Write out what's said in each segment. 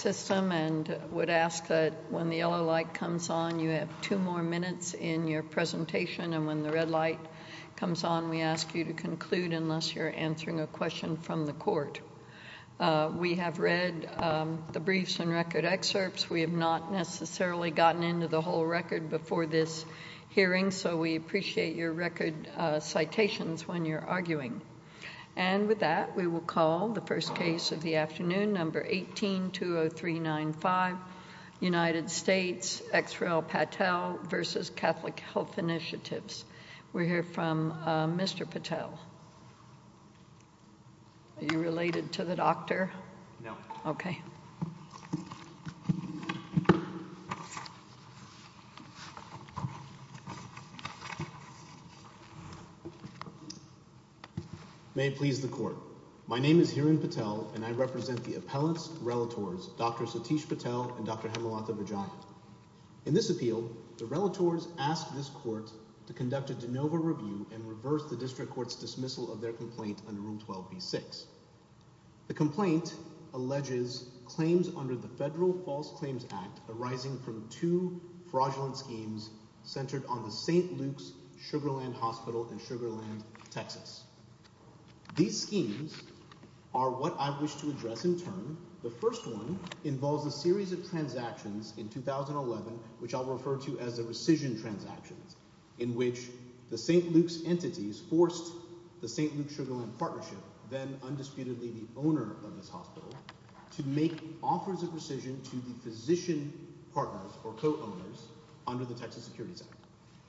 System and would ask that when the yellow light comes on, you have two more minutes in your presentation, and when the red light comes on, we ask you to conclude unless you're answering a question from the court. We have read the briefs and record excerpts. We have not necessarily gotten into the whole record before this hearing, so we appreciate your record citations when you're arguing. And with that, we will call the first case of the afternoon, number 18-20395, United States, XREL Patel v. Catholic Health Initiatives. We'll hear from Mr. Patel. Are you related to the doctor? No. OK. May it please the court. My name is Hiran Patel, and I represent the appellate's relators, Dr. Satish Patel and Dr. Hemalatha Vajayan. In this appeal, the relators asked this court to conduct a de novo review and reverse the district court's dismissal of their complaint under Rule 12b-6. The complaint alleges claims under the Federal False Claims Act arising from two fraudulent schemes centered on the St. Luke's Sugarland Hospital in Sugarland, Texas. These schemes are what I wish to address in turn. The first one involves a series of transactions in 2011, which I'll refer to as the rescission transactions, in which the St. Luke's entities forced the St. Luke's Sugarland Partnership, then undisputedly the owner of this hospital, to make offers of rescission to the physician partners or co-owners under the Texas Securities Act.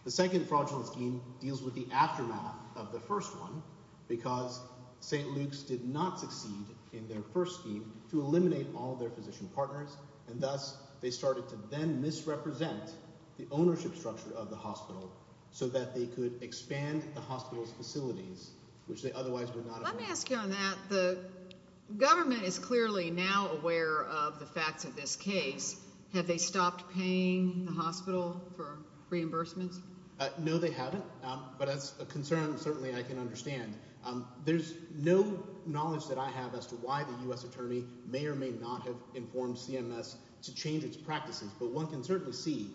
The second fraudulent scheme deals with the aftermath of the first one, because St. Luke's did not succeed in their first scheme to eliminate all their physician partners, and thus they started to then misrepresent the ownership structure of the hospital so that they could expand the hospital's facilities, which they otherwise would not have done. Let me ask you on that. The government is clearly now aware of the facts of this case. Have they stopped paying the hospital for reimbursements? No, they haven't, but that's a concern certainly I can understand. There's no knowledge that I have as to why the U.S. Attorney may or may not have informed CMS to change its practices, but one can certainly see,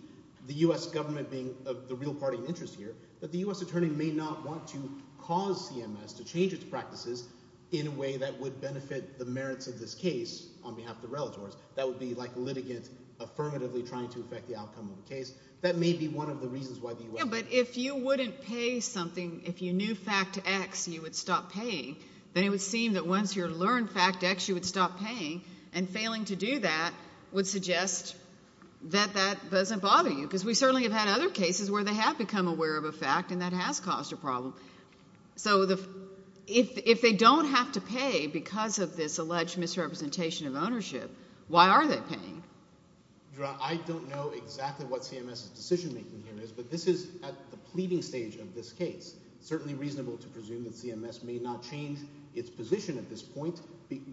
the U.S. government being of the real party interest here, that the U.S. Attorney may not want to cause CMS to change its practices in a way that would benefit the merits of this case on behalf of the relatives. That would be like litigants affirmatively trying to affect the outcome of the case. That may be one of the reasons why the U.S. Yeah, but if you wouldn't pay something, if you knew fact X, you would stop paying, then it would seem that once you learned fact X, you would stop paying, and failing to do that would suggest that that doesn't bother you, because we certainly have had other cases where they have become aware of a fact, and that has caused a problem. So if they don't have to pay because of this alleged misrepresentation of ownership, why are they paying? Your Honor, I don't know exactly what CMS's decision making here is, but this is at the pleading stage of this case. Certainly reasonable to presume that CMS may not change its position at this point,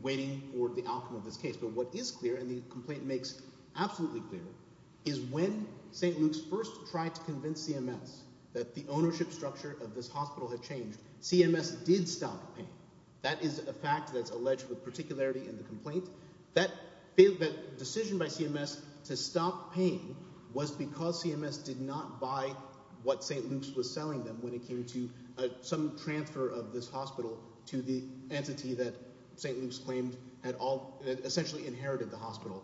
waiting for the outcome of this case, but what is clear, and the complaint makes absolutely clear, is when St. Luke's first tried to convince CMS that the ownership structure of this hospital had changed, CMS did stop paying. That is a fact that's alleged with particularity in the complaint. That decision by CMS to stop paying was because CMS did not buy what St. Luke's was selling them when it came to some transfer of this hospital to the entity that St. Luke's claimed had essentially inherited the hospital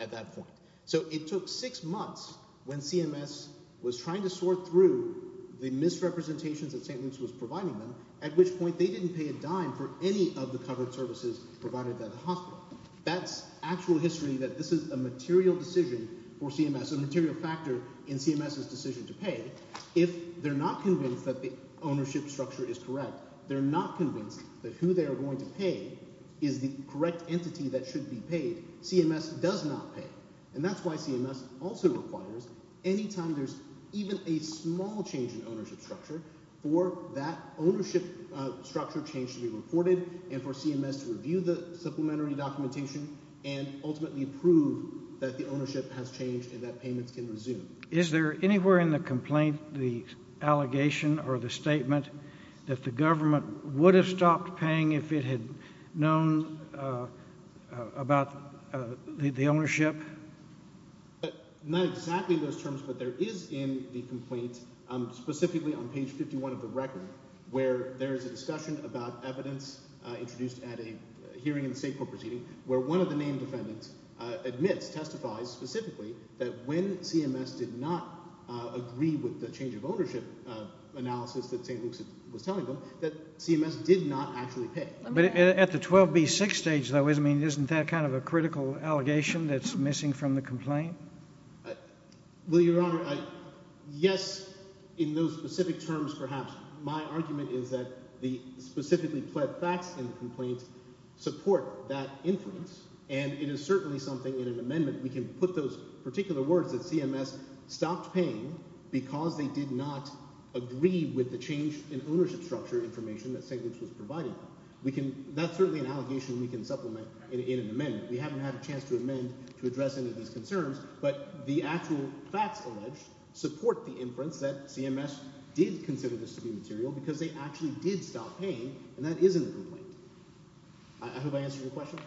at that point. So it took six months when CMS was trying to sort through the misrepresentations that St. Luke's was providing them, at which point they didn't pay a dime for any of the covered services provided by the hospital. That's actual history that this is a material decision for CMS, a material factor in CMS's decision to pay. If they're not convinced that the ownership structure is correct, they're not convinced that who they are going to pay is the correct entity that should be paid, CMS does not pay. And that's why CMS also requires any time there's even a small change in ownership structure for that ownership structure change to be reported and for CMS to review the supplementary documentation and ultimately prove that the ownership has changed and that payments can resume. Is there anywhere in the complaint, the allegation or the statement that the government would have stopped paying if it had known about the ownership? Not exactly in those terms, but there is in the complaint, specifically on page 51 of the record, where there is a discussion about evidence introduced at a hearing in the state court proceeding where one of the named defendants admits, testifies specifically, that when CMS did not agree with the change of ownership analysis that St. Luke's was telling them, that CMS did not actually pay. But at the 12B6 stage, though, isn't that kind of a critical allegation that's missing from the complaint? Well, Your Honor, yes, in those specific terms, perhaps, my argument is that the specifically pled facts in the complaint support that influence, and it is certainly something in an amendment we can put those particular words that CMS stopped paying because they did not agree with the change in ownership structure information that St. Luke's was providing them. That's certainly an allegation we can supplement in an amendment. We haven't had a chance to amend to address any of these concerns, but the actual facts alleged support the inference that CMS did consider this to be material because they actually did stop paying, and that is in the complaint. I hope I answered your question.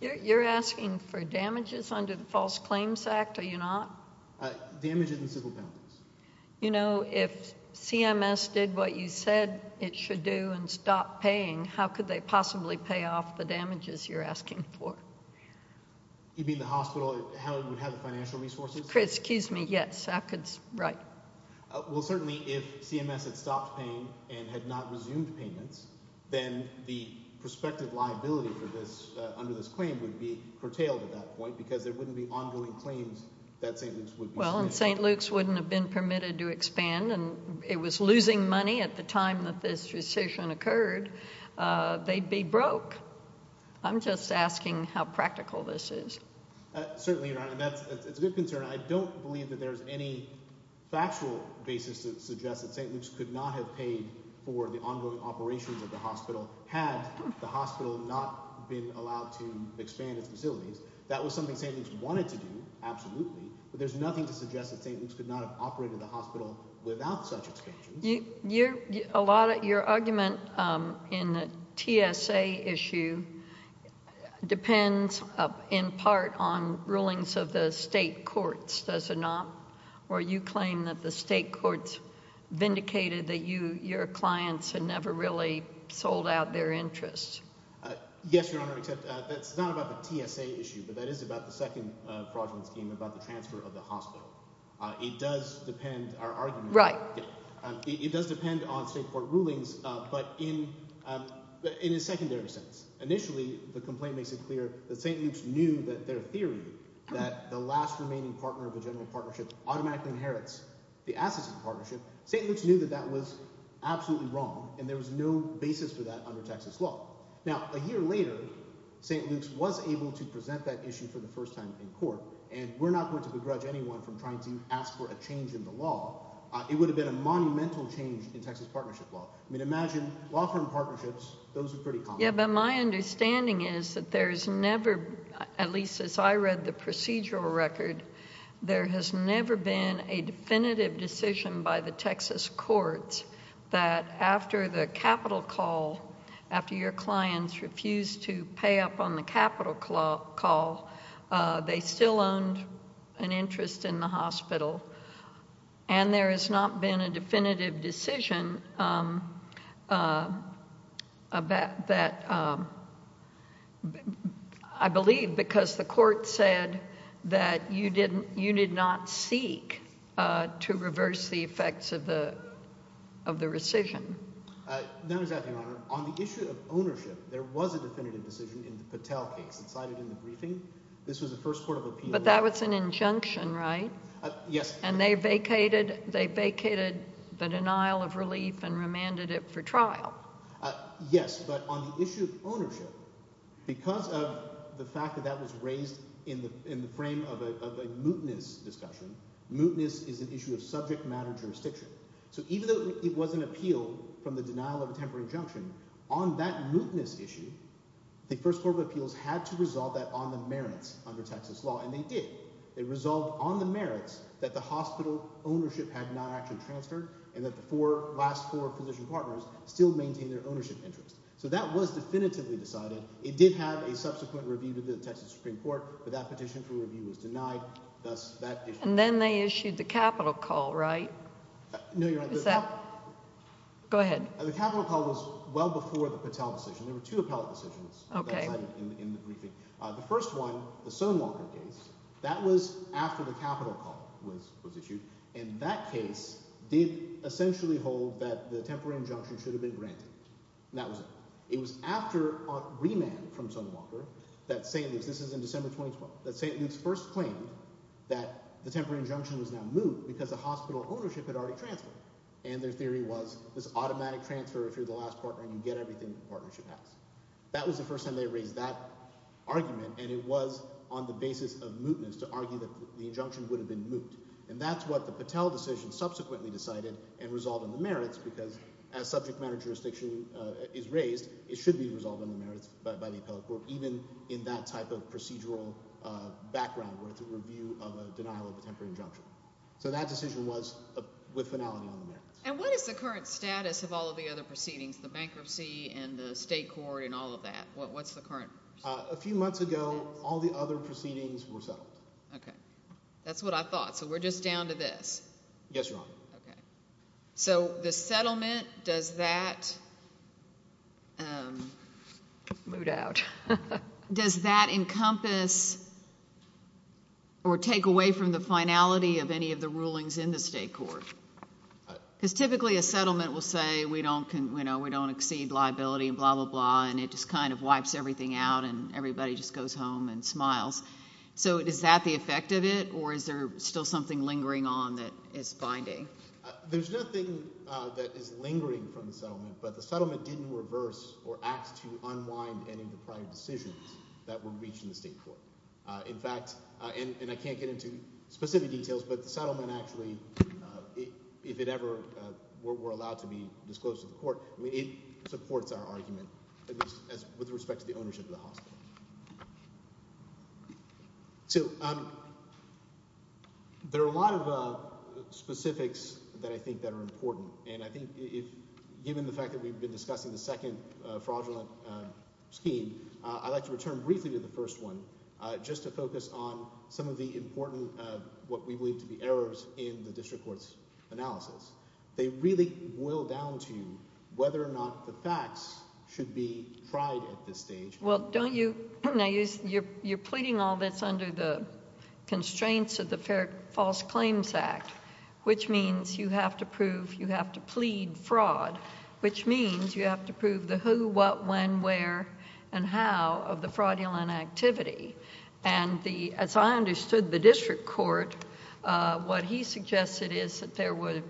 You're asking for damages under the False Claims Act, are you not? Damages in civil penalties. You know, if CMS did what you said it should do and stopped paying, how could they possibly pay off the damages you're asking for? You mean the hospital, how it would have the financial resources? Excuse me, yes, I could, right. Well, certainly, if CMS had stopped paying and had not resumed payments, then the prospective liability for this under this claim would be curtailed at that point because there wouldn't be ongoing claims that St. Luke's would be submitting. If St. Luke's wouldn't have been permitted to expand and it was losing money at the time that this decision occurred, they'd be broke. I'm just asking how practical this is. Certainly, Your Honor, that's a good concern. I don't believe that there's any factual basis to suggest that St. Luke's could not have paid for the ongoing operations of the hospital had the hospital not been allowed to expand its facilities. That was something St. Luke's wanted to do, absolutely, but there's nothing to suggest that St. Luke's could not have operated the hospital without such expansions. Your argument in the TSA issue depends in part on rulings of the state courts, does it not? Or you claim that the state courts vindicated that your clients had never really sold out their interests. Yes, Your Honor, except that's not about the TSA issue, but that is about the second fraudulent scheme, about the transfer of the hospital. It does depend on state court rulings, but in a secondary sense. Initially, the complaint makes it clear that St. Luke's knew that their theory that the last remaining partner of the general partnership automatically inherits the assets of the partnership. St. Luke's knew that that was absolutely wrong and there was no basis for that under Texas law. Now, a year later, St. Luke's was able to present that issue for the first time in court and we're not going to begrudge anyone from trying to ask for a change in the law. It would have been a monumental change in Texas partnership law. I mean, imagine law firm partnerships, those are pretty common. Yeah, but my understanding is that there's never, at least as I read the procedural record, there has never been a definitive decision by the Texas courts that after the capital call, after your clients refused to pay up on the capital call, they still owned an interest in the hospital, and there has not been a definitive decision that I believe because the court said that you did not seek to reverse the effects of the rescission. Not exactly, Your Honor. On the issue of ownership, there was a definitive decision in the Patel case that cited in the briefing. This was the first court of appeal. But that was an injunction, right? Yes. And they vacated the denial of relief and remanded it for trial. Yes, but on the issue of ownership, because of the fact that that was raised in the frame of a mootness discussion, mootness is an issue of subject matter jurisdiction. So even though it was an appeal from the denial of a temporary injunction, on that mootness issue, the first court of appeals had to resolve that on the merits under Texas law, and they did. They resolved on the merits that the hospital ownership had not actually transferred and that the last four physician partners still maintained their ownership interest. So that was definitively decided. It did have a subsequent review to the Texas Supreme Court, but that petition for review was denied. And then they issued the capital call, right? No, you're right. Who's that? Go ahead. The capital call was well before the Patel decision. There were two appellate decisions that cited in the briefing. The first one, the Sonewalker case, that was after the capital call was issued, and that case did essentially hold that the temporary injunction should have been granted, and that was it. It was after remand from Sonewalker that St. Luke's, this is in December 2012, that St. Luke's first claimed that the temporary injunction was now moot because the hospital ownership had already transferred. And their theory was this automatic transfer if you're the last partner and you get everything the partnership has. That was the first time they raised that argument, and it was on the basis of mootness to argue that the injunction would have been moot. And that's what the Patel decision subsequently decided and resolved on the merits because as subject matter jurisdiction is raised, it should be resolved on the merits by the appellate court, even in that type of procedural background where it's a review of a denial of a temporary injunction. So that decision was with finality on the merits. And what is the current status of all of the other proceedings, the bankruptcy and the state court and all of that? What's the current status? A few months ago, all the other proceedings were settled. Okay. That's what I thought. So we're just down to this? Yes, Your Honor. Okay. So the settlement, does that... Moot out. Does that encompass or take away from the finality of any of the rulings in the state court? Because typically a settlement will say we don't exceed liability and blah, blah, blah, and it just kind of wipes everything out and everybody just goes home and smiles. So is that the effect of it, or is there still something lingering on that is binding? There's nothing that is lingering from the settlement, but the settlement didn't reverse or act to unwind any of the prior decisions that were reached in the state court. In fact, and I can't get into specific details, but the settlement actually, if it ever were allowed to be disclosed to the court, it supports our argument with respect to the ownership of the hospital. So there are a lot of specifics that I think that are important. And I think if, given the fact that we've been discussing the second fraudulent scheme, I'd like to return briefly to the first one, just to focus on some of the important, what we believe to be errors in the district court's analysis. They really boil down to whether or not the facts should be tried at this stage. Well, don't you, now you're pleading all this under the constraints of the Fair False Claims Act, which means you have to prove, you have to plead fraud, which means you have to prove the who, what, when, where, and how of the fraudulent activity. And as I understood the district court, what he suggested is that there were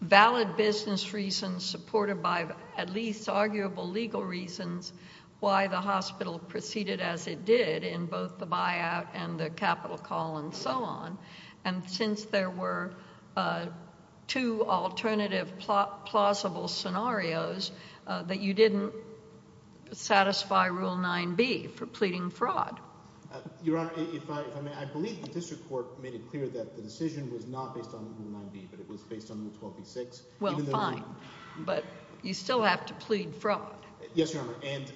valid business reasons supported by at least arguable legal reasons why the hospital proceeded as it did in both the buyout and the capital call and so on. And since there were two alternative plausible scenarios, that you didn't satisfy Rule 9b for pleading fraud. Your Honor, if I may, I believe the district court made it clear that the decision was not based on Rule 9b, but it was based on Rule 12b-6. Well, fine. But you still have to plead fraud. Yes, Your Honor. And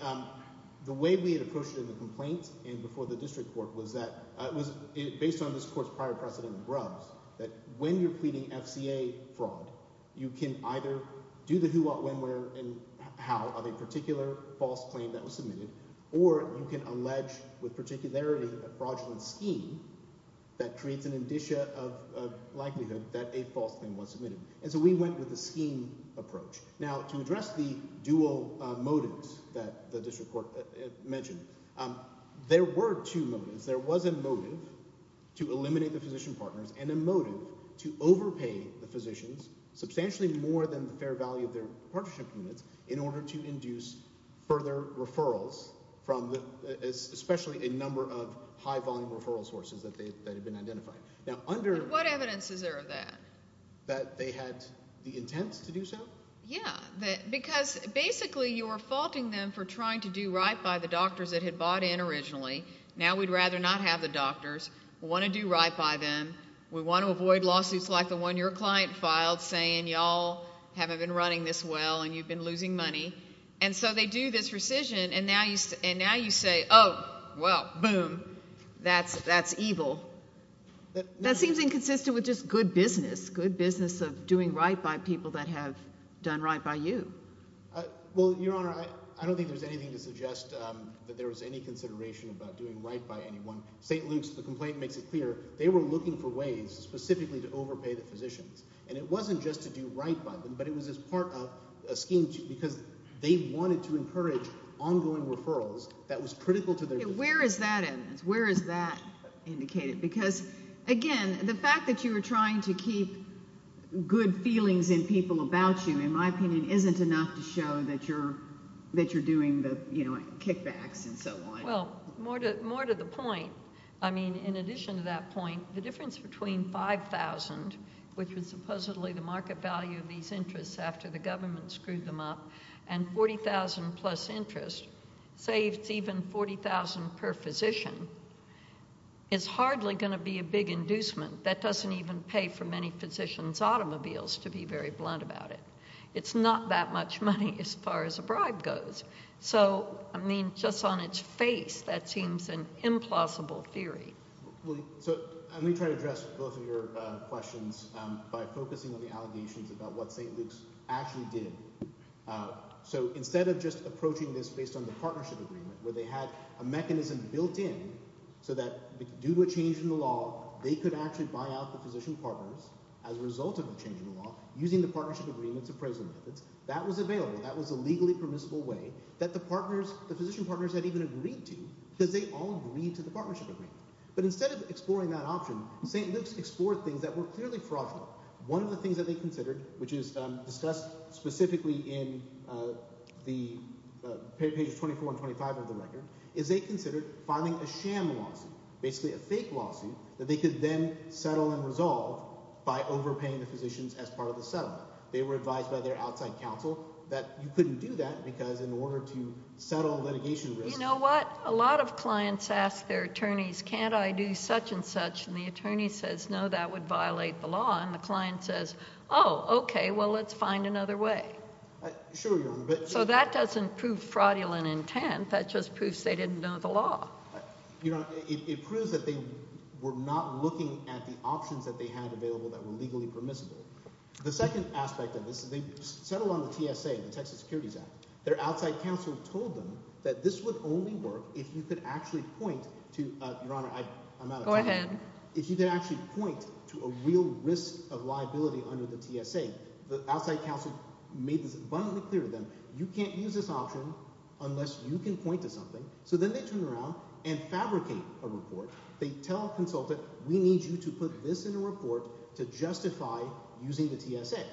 the way we had approached it in the complaint and before the district court was that it was based on this court's prior precedent in Grubbs that when you're pleading FCA fraud, you can either do the who, what, when, where, and how of a particular false claim that was submitted, or you can allege with particularity a fraudulent scheme that creates an indicia of likelihood that a false claim was submitted. And so we went with the scheme approach. Now, to address the dual motives that the district court mentioned, there were two motives. There was a motive to eliminate the physician partners and a motive to overpay the physicians substantially more than the fair value of their partnership units in order to induce further referrals from especially a number of high volume referral sources that had been identified. But what evidence is there of that? That they had the intent to do so? Yeah, because basically you were faulting them for trying to do right by the doctors that had bought in originally. Now we'd rather not have the doctors. We want to do right by them. We want to avoid lawsuits like the one your client filed saying y'all haven't been running this well and you've been losing money. And so they do this rescission and now you say, oh, well, boom, that's evil. That seems inconsistent with just good business, good business of doing right by people that have done right by you. Well, Your Honor, I don't think there's anything to suggest that there was any consideration about doing right by anyone. St. Luke's complaint makes it clear they were looking for ways specifically to overpay the physicians. And it wasn't just to do right by them, but it was as part of a scheme because they wanted to encourage ongoing referrals that was critical to their business. Where is that evidence? Where is that indicated? Because, again, the fact that you were trying to keep good feelings in people about you, in my opinion, isn't enough to show that you're doing the kickbacks and so on. Well, more to the point, I mean, in addition to that point, the difference between $5,000, which was supposedly the market value of these interests after the government screwed them up, and $40,000 plus interest saves even $40,000 per physician, is hardly going to be a big inducement. That doesn't even pay for many physicians' automobiles, to be very blunt about it. It's not that much money as far as a bribe goes. So, I mean, just on its face, that seems an implausible theory. So let me try to address both of your questions by focusing on the allegations about what St. Luke's actually did. So instead of just approaching this based on the partnership agreement, where they had a mechanism built in so that due to a change in the law, they could actually buy out the physician partners as a result of a change in the law using the partnership agreement's appraisal methods, that was available. That was a legally permissible way that the physician partners had even agreed to because they all agreed to the partnership agreement. But instead of exploring that option, St. Luke's explored things that were clearly fraudulent. One of the things that they considered, which is discussed specifically in pages 24 and 25 of the record, is they considered filing a sham lawsuit, basically a fake lawsuit, that they could then settle and resolve by overpaying the physicians as part of the settlement. They were advised by their outside counsel that you couldn't do that because in order to settle litigation risks— You know what? A lot of clients ask their attorneys, can't I do such and such? And the attorney says, no, that would violate the law. And the client says, oh, okay, well, let's find another way. Sure, Your Honor, but— And that just proves they didn't know the law. Your Honor, it proves that they were not looking at the options that they had available that were legally permissible. The second aspect of this is they settled on the TSA, the Texas Securities Act. Their outside counsel told them that this would only work if you could actually point to—Your Honor, I'm out of time. Go ahead. If you could actually point to a real risk of liability under the TSA. The outside counsel made this abundantly clear to them. You can't use this option unless you can point to something. So then they turn around and fabricate a report. They tell a consultant, we need you to put this in a report to justify using the TSA.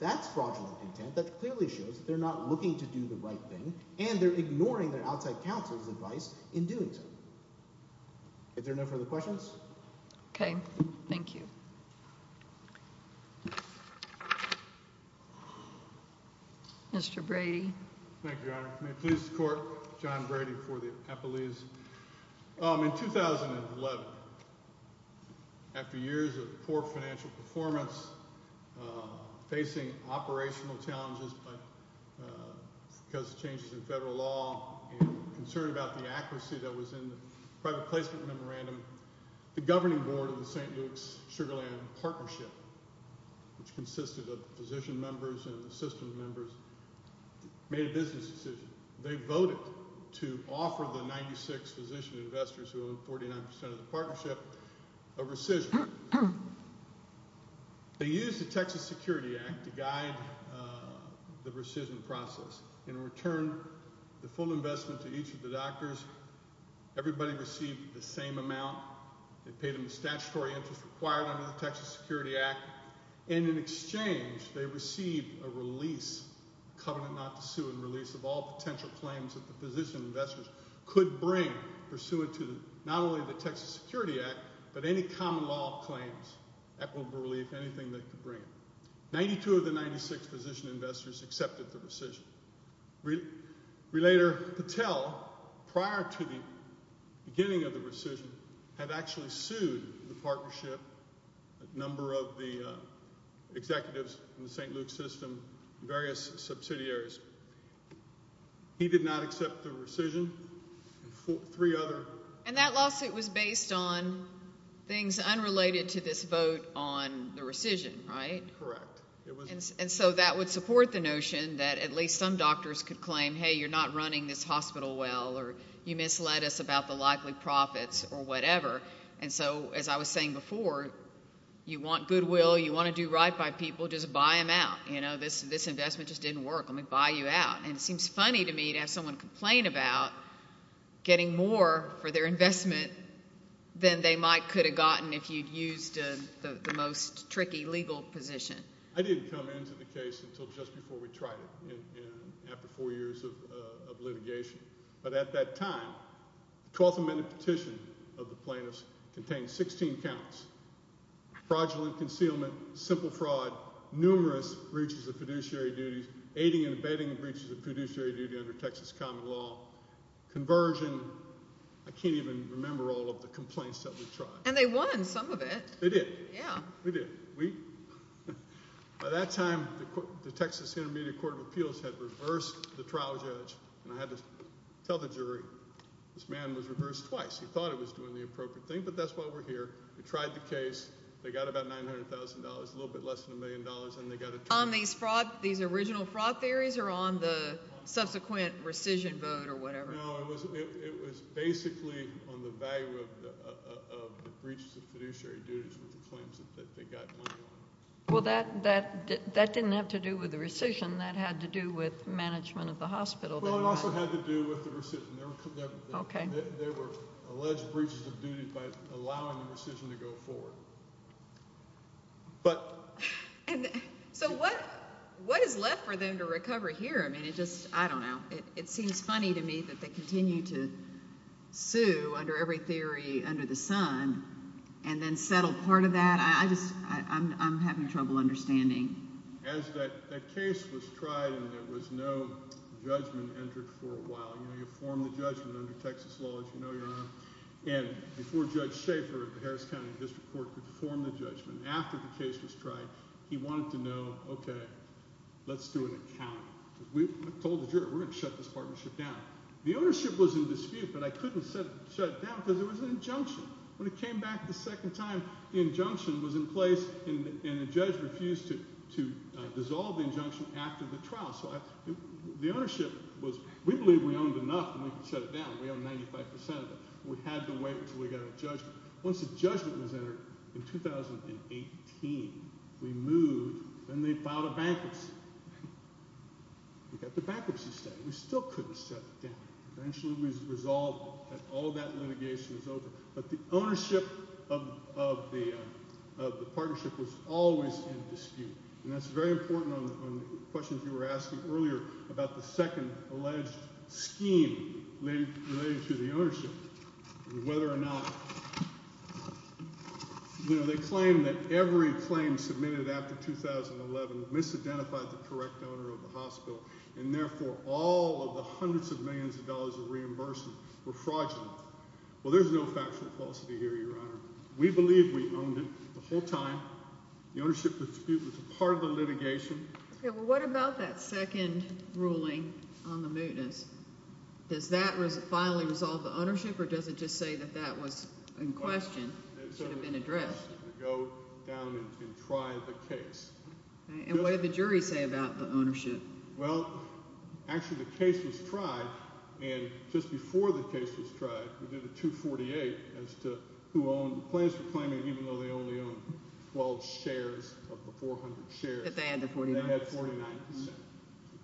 That's fraudulent intent. That clearly shows they're not looking to do the right thing, and they're ignoring their outside counsel's advice in doing so. If there are no further questions? Okay. Thank you. Mr. Brady. Thank you, Your Honor. May it please the Court, John Brady for the appellees. In 2011, after years of poor financial performance, facing operational challenges because of changes in federal law, and concern about the accuracy that was in the private placement memorandum, the governing board of the St. Luke's Sugar Land Partnership, which consisted of physician members and assistant members, made a business decision. They voted to offer the 96 physician investors who owned 49% of the partnership a rescission. They used the Texas Security Act to guide the rescission process. In return, the full investment to each of the doctors, everybody received the same amount, they paid them the statutory interest required under the Texas Security Act, and in exchange, they received a release, covenant not to sue and release, of all potential claims that the physician investors could bring pursuant to not only the Texas Security Act, but any common law claims, equitable relief, anything they could bring. 92 of the 96 physician investors accepted the rescission. Relator Patel, prior to the beginning of the rescission, had actually sued the partnership, a number of the executives in the St. Luke's system, various subsidiaries. He did not accept the rescission. Three other... And that lawsuit was based on things unrelated to this vote on the rescission, right? Correct. And so that would support the notion that at least some doctors could claim, hey, you're not running this hospital well, or you misled us about the likely profits, or whatever. And so, as I was saying before, you want goodwill, you want to do right by people, just buy them out. You know, this investment just didn't work. Let me buy you out. And it seems funny to me to have someone complain about getting more for their investment than they might could have gotten if you'd used the most tricky legal position. I didn't come into the case until just before we tried it, after four years of litigation. But at that time, the 12th Amendment petition of the plaintiffs contained 16 counts. Fraudulent concealment, simple fraud, numerous breaches of fiduciary duties, aiding and abetting breaches of fiduciary duty under Texas common law, conversion, I can't even remember all the complaints that we tried. And they won some of it. They did. Yeah. We did. By that time, the Texas Intermediate Court of Appeals had reversed the trial judge, and I had to tell the jury, this man was reversed twice. He thought he was doing the appropriate thing, but that's why we're here. We tried the case, they got about $900,000, a little bit less than a million dollars, and they got a trial. On these fraud, these original fraud theories, or on the subsequent rescission vote, or whatever? No, it was basically on the value of the breaches of fiduciary duties with the claims that they got money on. Well, that didn't have to do with the rescission. That had to do with management of the hospital. Well, it also had to do with the rescission. Okay. There were alleged breaches of duty by allowing the rescission to go forward. So what is left for them to recover here? I mean, it just, I don't know. It seems funny to me that they continue to sue under every theory under the sun, and then settle part of that. I just, I'm having trouble understanding. As that case was tried and there was no judgment entered for a while, you know, you form the judgment under Texas law, as you know, Your Honor. And before Judge Schaefer at the Harris County District Court could form the judgment, after the case was tried, he wanted to know, okay, let's do an accounting. We told the jury, we're going to shut this partnership down. The ownership was in dispute, but I couldn't shut it down because there was an injunction. When it came back the second time, the injunction was in place and the judge refused to dissolve the injunction after the trial. So the ownership was, we believe we owned enough and we can shut it down. We own 95% of it. We had to wait until we got a judgment. Once a judgment was entered in 2018, we moved and they filed a bankruptcy. We got the bankruptcy settled. We still couldn't shut it down. Eventually we resolved and all that litigation was over. But the ownership of the partnership was always in dispute, and that's very important on the questions you were asking earlier about the second alleged scheme related to the ownership and whether or not, you know, they claim that every claim submitted after 2011 misidentified the correct owner of the hospital and therefore all of the hundreds of millions of dollars of reimbursement were fraudulent. Well, there's no factual falsity here, Your Honor. We believe we owned it the whole time. The ownership dispute was a part of the litigation. Okay, well, what about that second ruling on the mootness? Does that finally resolve the ownership, or does it just say that that was in question? It should have been addressed. Go down and try the case. And what did the jury say about the ownership? Well, actually the case was tried, and just before the case was tried, we did a 248 as to who owned the claims for claiming even though they only owned 12 shares of the 400 shares. That they had the 49%. They had 49%.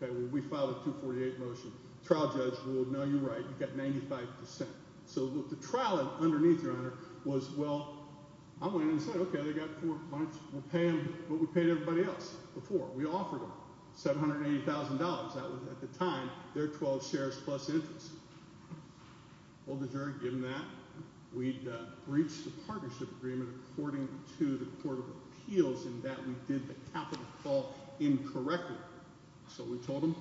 Okay, well, we filed a 248 motion. Trial judge ruled, no, you're right, you've got 95%. So the trial underneath, Your Honor, was, well, I went in and said, okay, they've got four points. We'll pay them what we paid everybody else before. We offered them $780,000. That was, at the time, their 12 shares plus interest. Well, the jury had given that. We'd breached the partnership agreement according to the Court of Appeals in that we did the capital fall incorrectly. So we told them,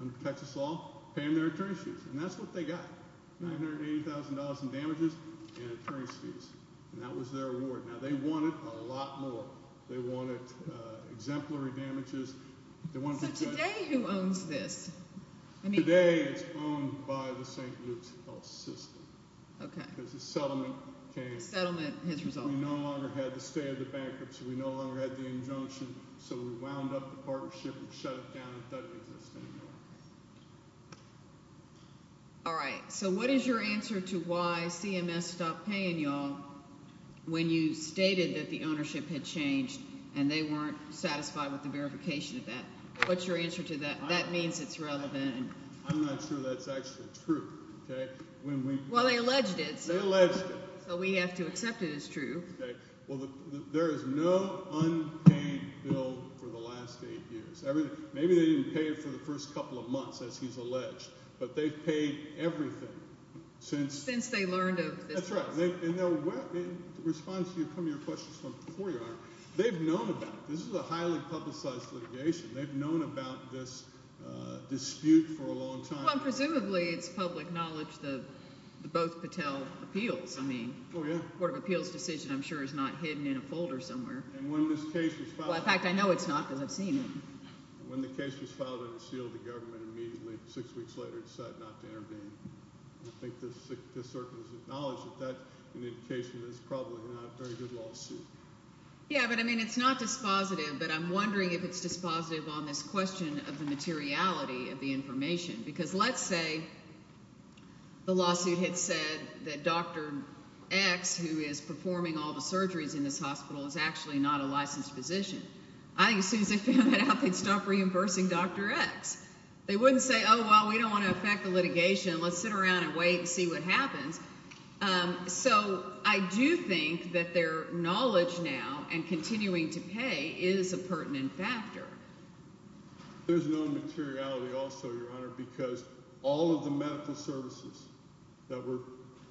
under protection of the law, pay them their attorney's fees. And that's what they got, $980,000 in damages and attorney's fees. And that was their award. Now, they wanted a lot more. They wanted exemplary damages. So today who owns this? Today it's owned by the St. Luke's Health System. Okay. Because the settlement came. The settlement has resolved. We no longer had the stay of the bankruptcy. We no longer had the injunction. So we wound up the partnership and shut it down. It doesn't exist anymore. All right. So what is your answer to why CMS stopped paying you all when you stated that the ownership had changed and they weren't satisfied with the verification of that? What's your answer to that? That means it's relevant. I'm not sure that's actually true. Well, they alleged it. They alleged it. So we have to accept it as true. Okay. Well, there is no unpaid bill for the last eight years. Maybe they didn't pay it for the first couple of months, as he's alleged. But they've paid everything since. Since they learned of this. That's right. And in response to some of your questions from before you, they've known about it. This is a highly publicized litigation. They've known about this dispute for a long time. Well, presumably it's public knowledge, the both Patel appeals. Oh, yeah. The court of appeals decision, I'm sure, is not hidden in a folder somewhere. And when this case was filed. Well, in fact, I know it's not because I've seen it. When the case was filed, it was sealed to government immediately. Six weeks later, it's set not to intervene. I think this circuit is acknowledged that that's an indication that it's probably not a very good lawsuit. Yeah, but, I mean, it's not dispositive. But I'm wondering if it's dispositive on this question of the materiality of the information. Because let's say the lawsuit had said that Dr. X, who is performing all the surgeries in this hospital, is actually not a licensed physician. I think as soon as they found out, they'd stop reimbursing Dr. X. They wouldn't say, oh, well, we don't want to affect the litigation. Let's sit around and wait and see what happens. So I do think that their knowledge now and continuing to pay is a pertinent factor. There's no materiality also, Your Honor, because all of the medical services that were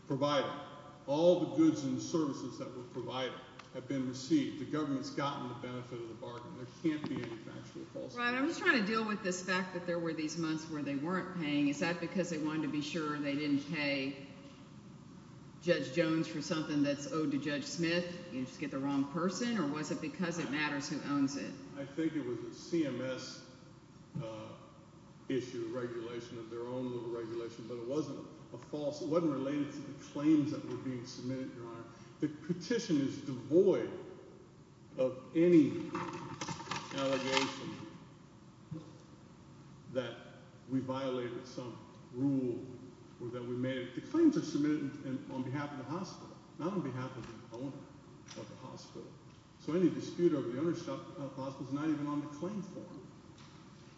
provided, all the goods and services that were provided, have been received. The government's gotten the benefit of the bargain. There can't be any factual falsehood. Right. I was trying to deal with this fact that there were these months where they weren't paying. Is that because they wanted to be sure they didn't pay Judge Jones for something that's owed to Judge Smith and just get the wrong person? Or was it because it matters who owns it? I think it was a CMS issue, regulation of their own little regulation, but it wasn't a false – it wasn't related to the claims that were being submitted, Your Honor. The petition is devoid of any allegation that we violated some rule that we made. The claims are submitted on behalf of the hospital, not on behalf of the owner of the hospital. So any dispute over the ownership of the hospital is not even on the claim form.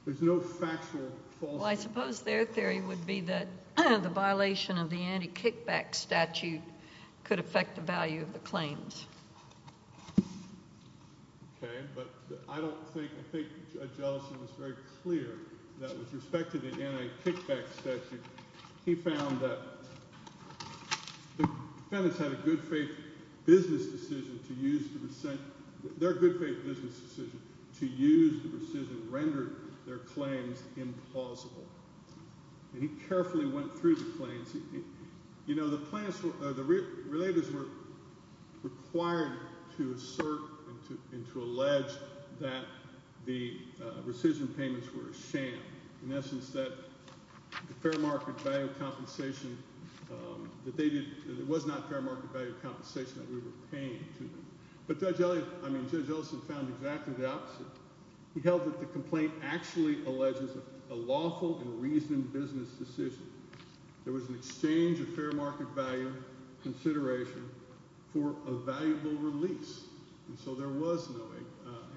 There's no factual falsehood. Well, I suppose their theory would be that the violation of the anti-kickback statute could affect the value of the claims. Okay, but I don't think – I think Judge Ellison was very clear that with respect to the anti-kickback statute, he found that the defendants had a good faith business decision to use the – their good faith business decision to use the decision rendered their claims implausible. And he carefully went through the claims. You know, the plaintiffs – the relators were required to assert and to allege that the rescission payments were a sham, in essence, that the fair market value compensation that they did – it was not fair market value compensation that we were paying to them. But Judge Ellison – I mean, Judge Ellison found exactly the opposite. He held that the complaint actually alleges a lawful and reasoned business decision. There was an exchange of fair market value consideration for a valuable release, and so there was no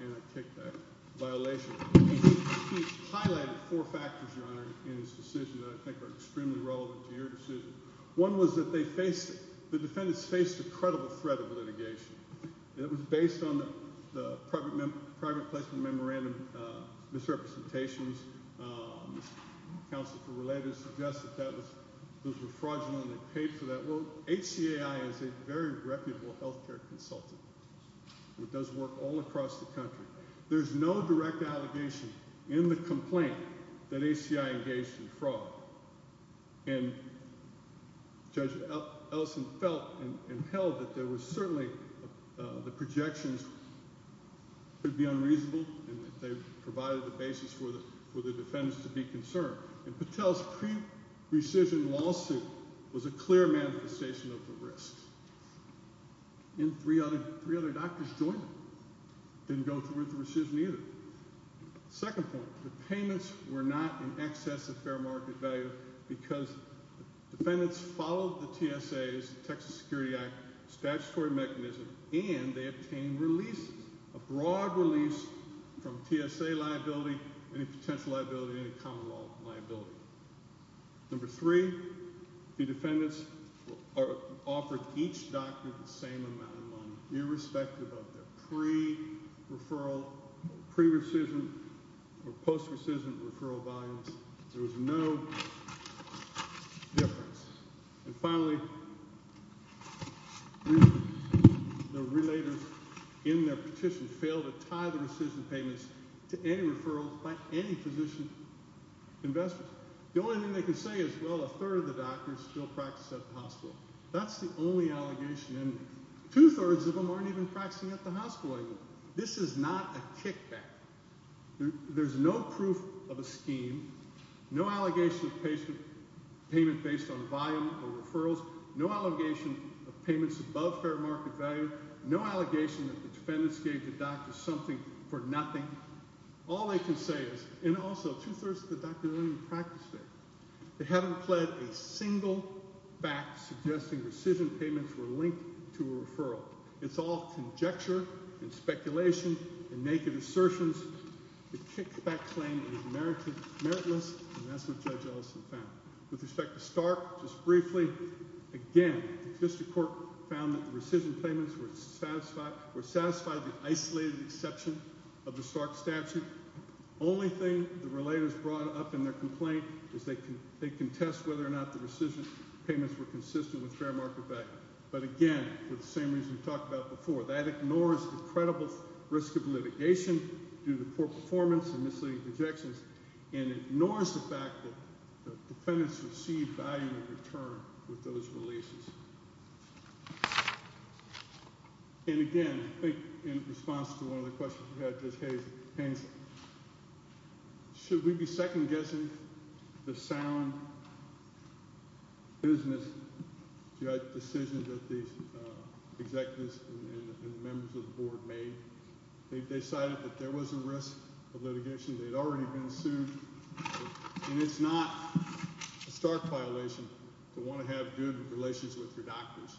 anti-kickback violation. He highlighted four factors, Your Honor, in his decision that I think are extremely relevant to your decision. One was that they faced – the defendants faced a credible threat of litigation. It was based on the private placement memorandum misrepresentations. Counsel for Relators suggested that those were fraudulent and they paid for that. Well, HCAI is a very reputable healthcare consultant. It does work all across the country. There's no direct allegation in the complaint that HCAI engaged in fraud. And Judge Ellison felt and held that there was certainly – the projections could be unreasonable and that they provided the basis for the defendants to be concerned. And Patel's pre-rescission lawsuit was a clear manifestation of the risk. And three other doctors joined him. Didn't go through with the rescission either. Second point, the payments were not in excess of fair market value because defendants followed the TSA's, Texas Security Act, statutory mechanism, and they obtained releases, a broad release from TSA liability, any potential liability, any common law liability. Number three, the defendants offered each doctor the same amount of money, irrespective of their pre-referral, pre-rescission, or post-rescission referral volumes. There was no difference. And finally, the relators in their petition failed to tie the rescission payments to any referral by any physician investors. The only thing they can say is, well, a third of the doctors still practice at the hospital. That's the only allegation in there. Two-thirds of them aren't even practicing at the hospital anymore. This is not a kickback. There's no proof of a scheme, no allegation of patient payment based on volume or referrals, no allegation of payments above fair market value, no allegation that the defendants gave the doctors something for nothing. All they can say is, and also two-thirds of the doctors aren't even practicing, they haven't pled a single fact suggesting rescission payments were linked to a referral. It's all conjecture and speculation and naked assertions. The kickback claim is meritless, and that's what Judge Ellison found. With respect to Stark, just briefly, again, the district court found that the rescission payments were satisfied with isolated exception of the Stark statute. Only thing the relators brought up in their complaint is they contest whether or not the rescission payments were consistent with fair market value. But again, for the same reason we talked about before, that ignores the credible risk of litigation due to poor performance and misleading projections, and ignores the fact that the defendants received value in return with those releases. And again, I think in response to one of the questions we had, Judge Haynes, should we be second-guessing the sound business judge decision that these executives and members of the board made? They decided that there was a risk of litigation, they'd already been sued, and it's not a Stark violation to want to have good relations with your doctors.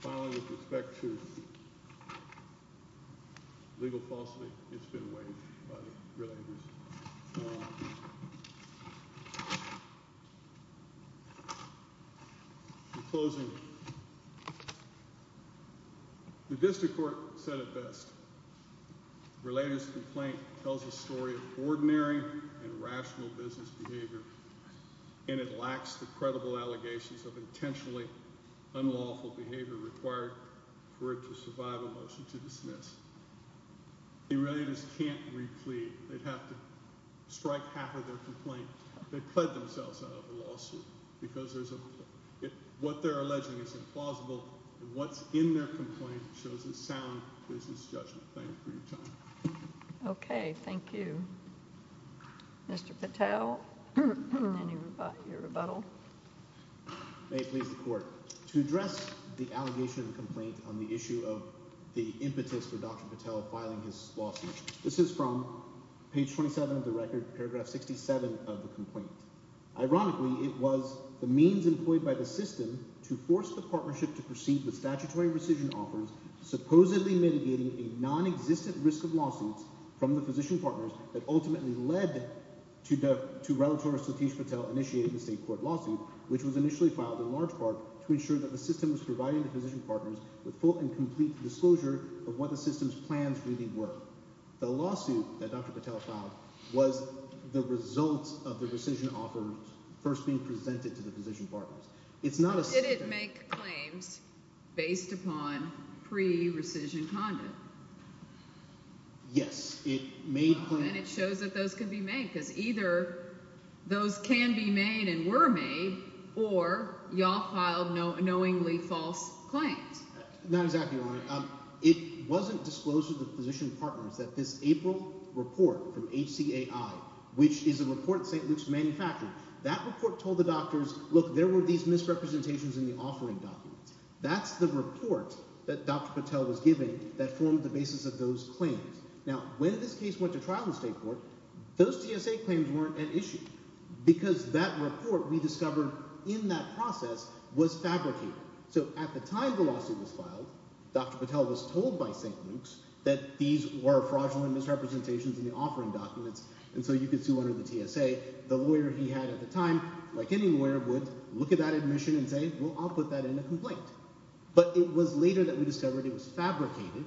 Finally, with respect to legal falsity, it's been waived by the relators. In closing, the district court said it best. Relators' complaint tells a story of ordinary and rational business behavior, and it lacks the credible allegations of intentionally unlawful behavior required for it to survive a motion to dismiss. The relators can't re-plead. They'd have to strike half of their complaint. They've pled themselves out of the lawsuit because what they're alleging is implausible, and what's in their complaint shows a sound business judgment. Thank you for your time. Okay, thank you. Mr. Patel, any rebuttal? May it please the court. To address the allegation of the complaint on the issue of the impetus for Dr. Patel filing his lawsuit, this is from page 27 of the record, paragraph 67 of the complaint. Ironically, it was the means employed by the system to force the partnership to proceed with statutory rescission offers, supposedly mitigating a nonexistent risk of lawsuits from the physician partners that ultimately led to relator Satish Patel initiating the state court lawsuit, which was initially filed in large part to ensure that the system was providing the physician partners with full and complete disclosure of what the system's plans really were. The lawsuit that Dr. Patel filed was the result of the rescission offers first being presented to the physician partners. Did it make claims based upon pre-rescission conduct? Yes. Then it shows that those can be made because either those can be made and were made or y'all filed knowingly false claims. Not exactly, Your Honor. It wasn't disclosed to the physician partners that this April report from HCAI, which is a report that St. Luke's manufactured, that report told the doctors, look, there were these misrepresentations in the offering documents. That's the report that Dr. Patel was giving that formed the basis of those claims. Now, when this case went to trial in the state court, those GSA claims weren't an issue because that report we discovered in that process was fabricated. So at the time the lawsuit was filed, Dr. Patel was told by St. Luke's that these were fraudulent misrepresentations in the offering documents and so you could sue under the TSA. The lawyer he had at the time, like any lawyer would, look at that admission and say, well, I'll put that in a complaint. But it was later that we discovered it was fabricated,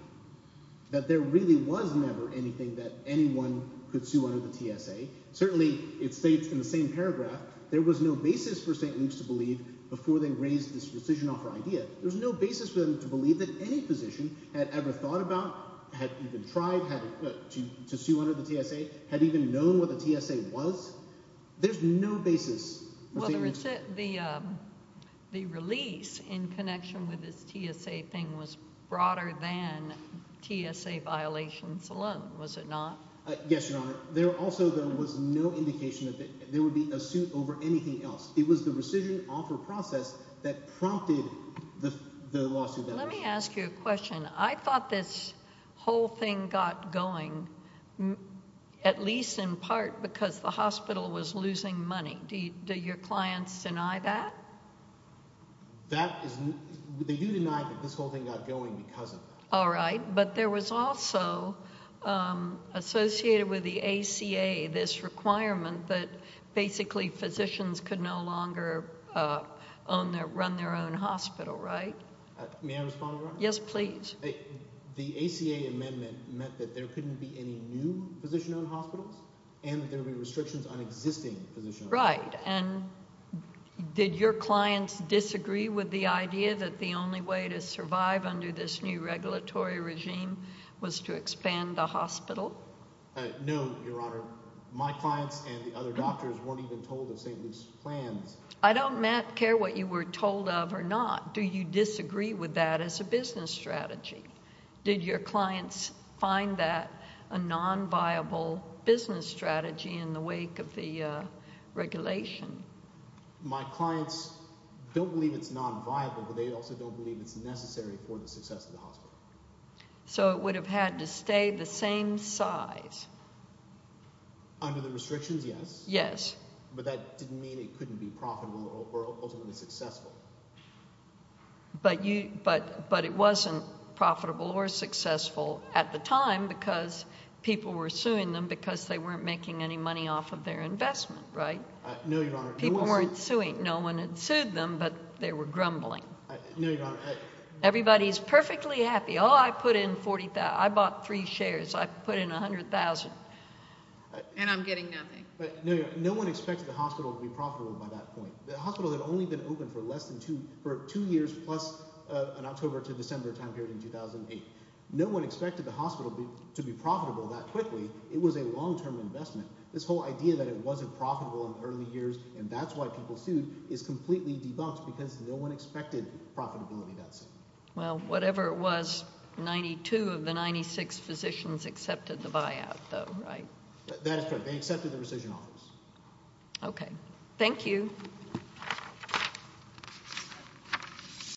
that there really was never anything that anyone could sue under the TSA. Certainly, it states in the same paragraph, there was no basis for St. Luke's to believe before they raised this rescission offer idea. There was no basis for them to believe that any physician had ever thought about, had even tried to sue under the TSA, had even known what the TSA was. There's no basis. Whether it's the release in connection with this TSA thing was broader than TSA violations alone, was it not? Yes, Your Honor. There also, though, was no indication that there would be a suit over anything else. It was the rescission offer process that prompted the lawsuit that was filed. Let me ask you a question. I thought this whole thing got going at least in part because the hospital was losing money. Do your clients deny that? That is – they do deny that this whole thing got going because of that. All right. But there was also associated with the ACA this requirement that basically physicians could no longer run their own hospital, right? May I respond, Your Honor? Yes, please. The ACA amendment meant that there couldn't be any new physician-owned hospitals and that there would be restrictions on existing physician-owned hospitals. Right. And did your clients disagree with the idea that the only way to survive under this new regulatory regime was to expand the hospital? No, Your Honor. My clients and the other doctors weren't even told of St. Luke's plans. I don't care what you were told of or not. Do you disagree with that as a business strategy? Did your clients find that a non-viable business strategy in the wake of the regulation? My clients don't believe it's non-viable, but they also don't believe it's necessary for the success of the hospital. So it would have had to stay the same size. Under the restrictions, yes. Yes. But that didn't mean it couldn't be profitable or ultimately successful. But it wasn't profitable or successful at the time because people were suing them because they weren't making any money off of their investment, right? No, Your Honor. People weren't suing. No one had sued them, but they were grumbling. No, Your Honor. Everybody's perfectly happy. Oh, I put in – I bought three shares. I put in $100,000. And I'm getting nothing. No, Your Honor. No one expected the hospital to be profitable by that point. The hospital had only been open for less than two – for two years plus an October to December time period in 2008. No one expected the hospital to be profitable that quickly. It was a long-term investment. This whole idea that it wasn't profitable in the early years and that's why people sued is completely debunked because no one expected profitability that soon. Well, whatever it was, 92 of the 96 physicians accepted the buyout though, right? That is correct. They accepted the rescission offers. Okay. Thank you.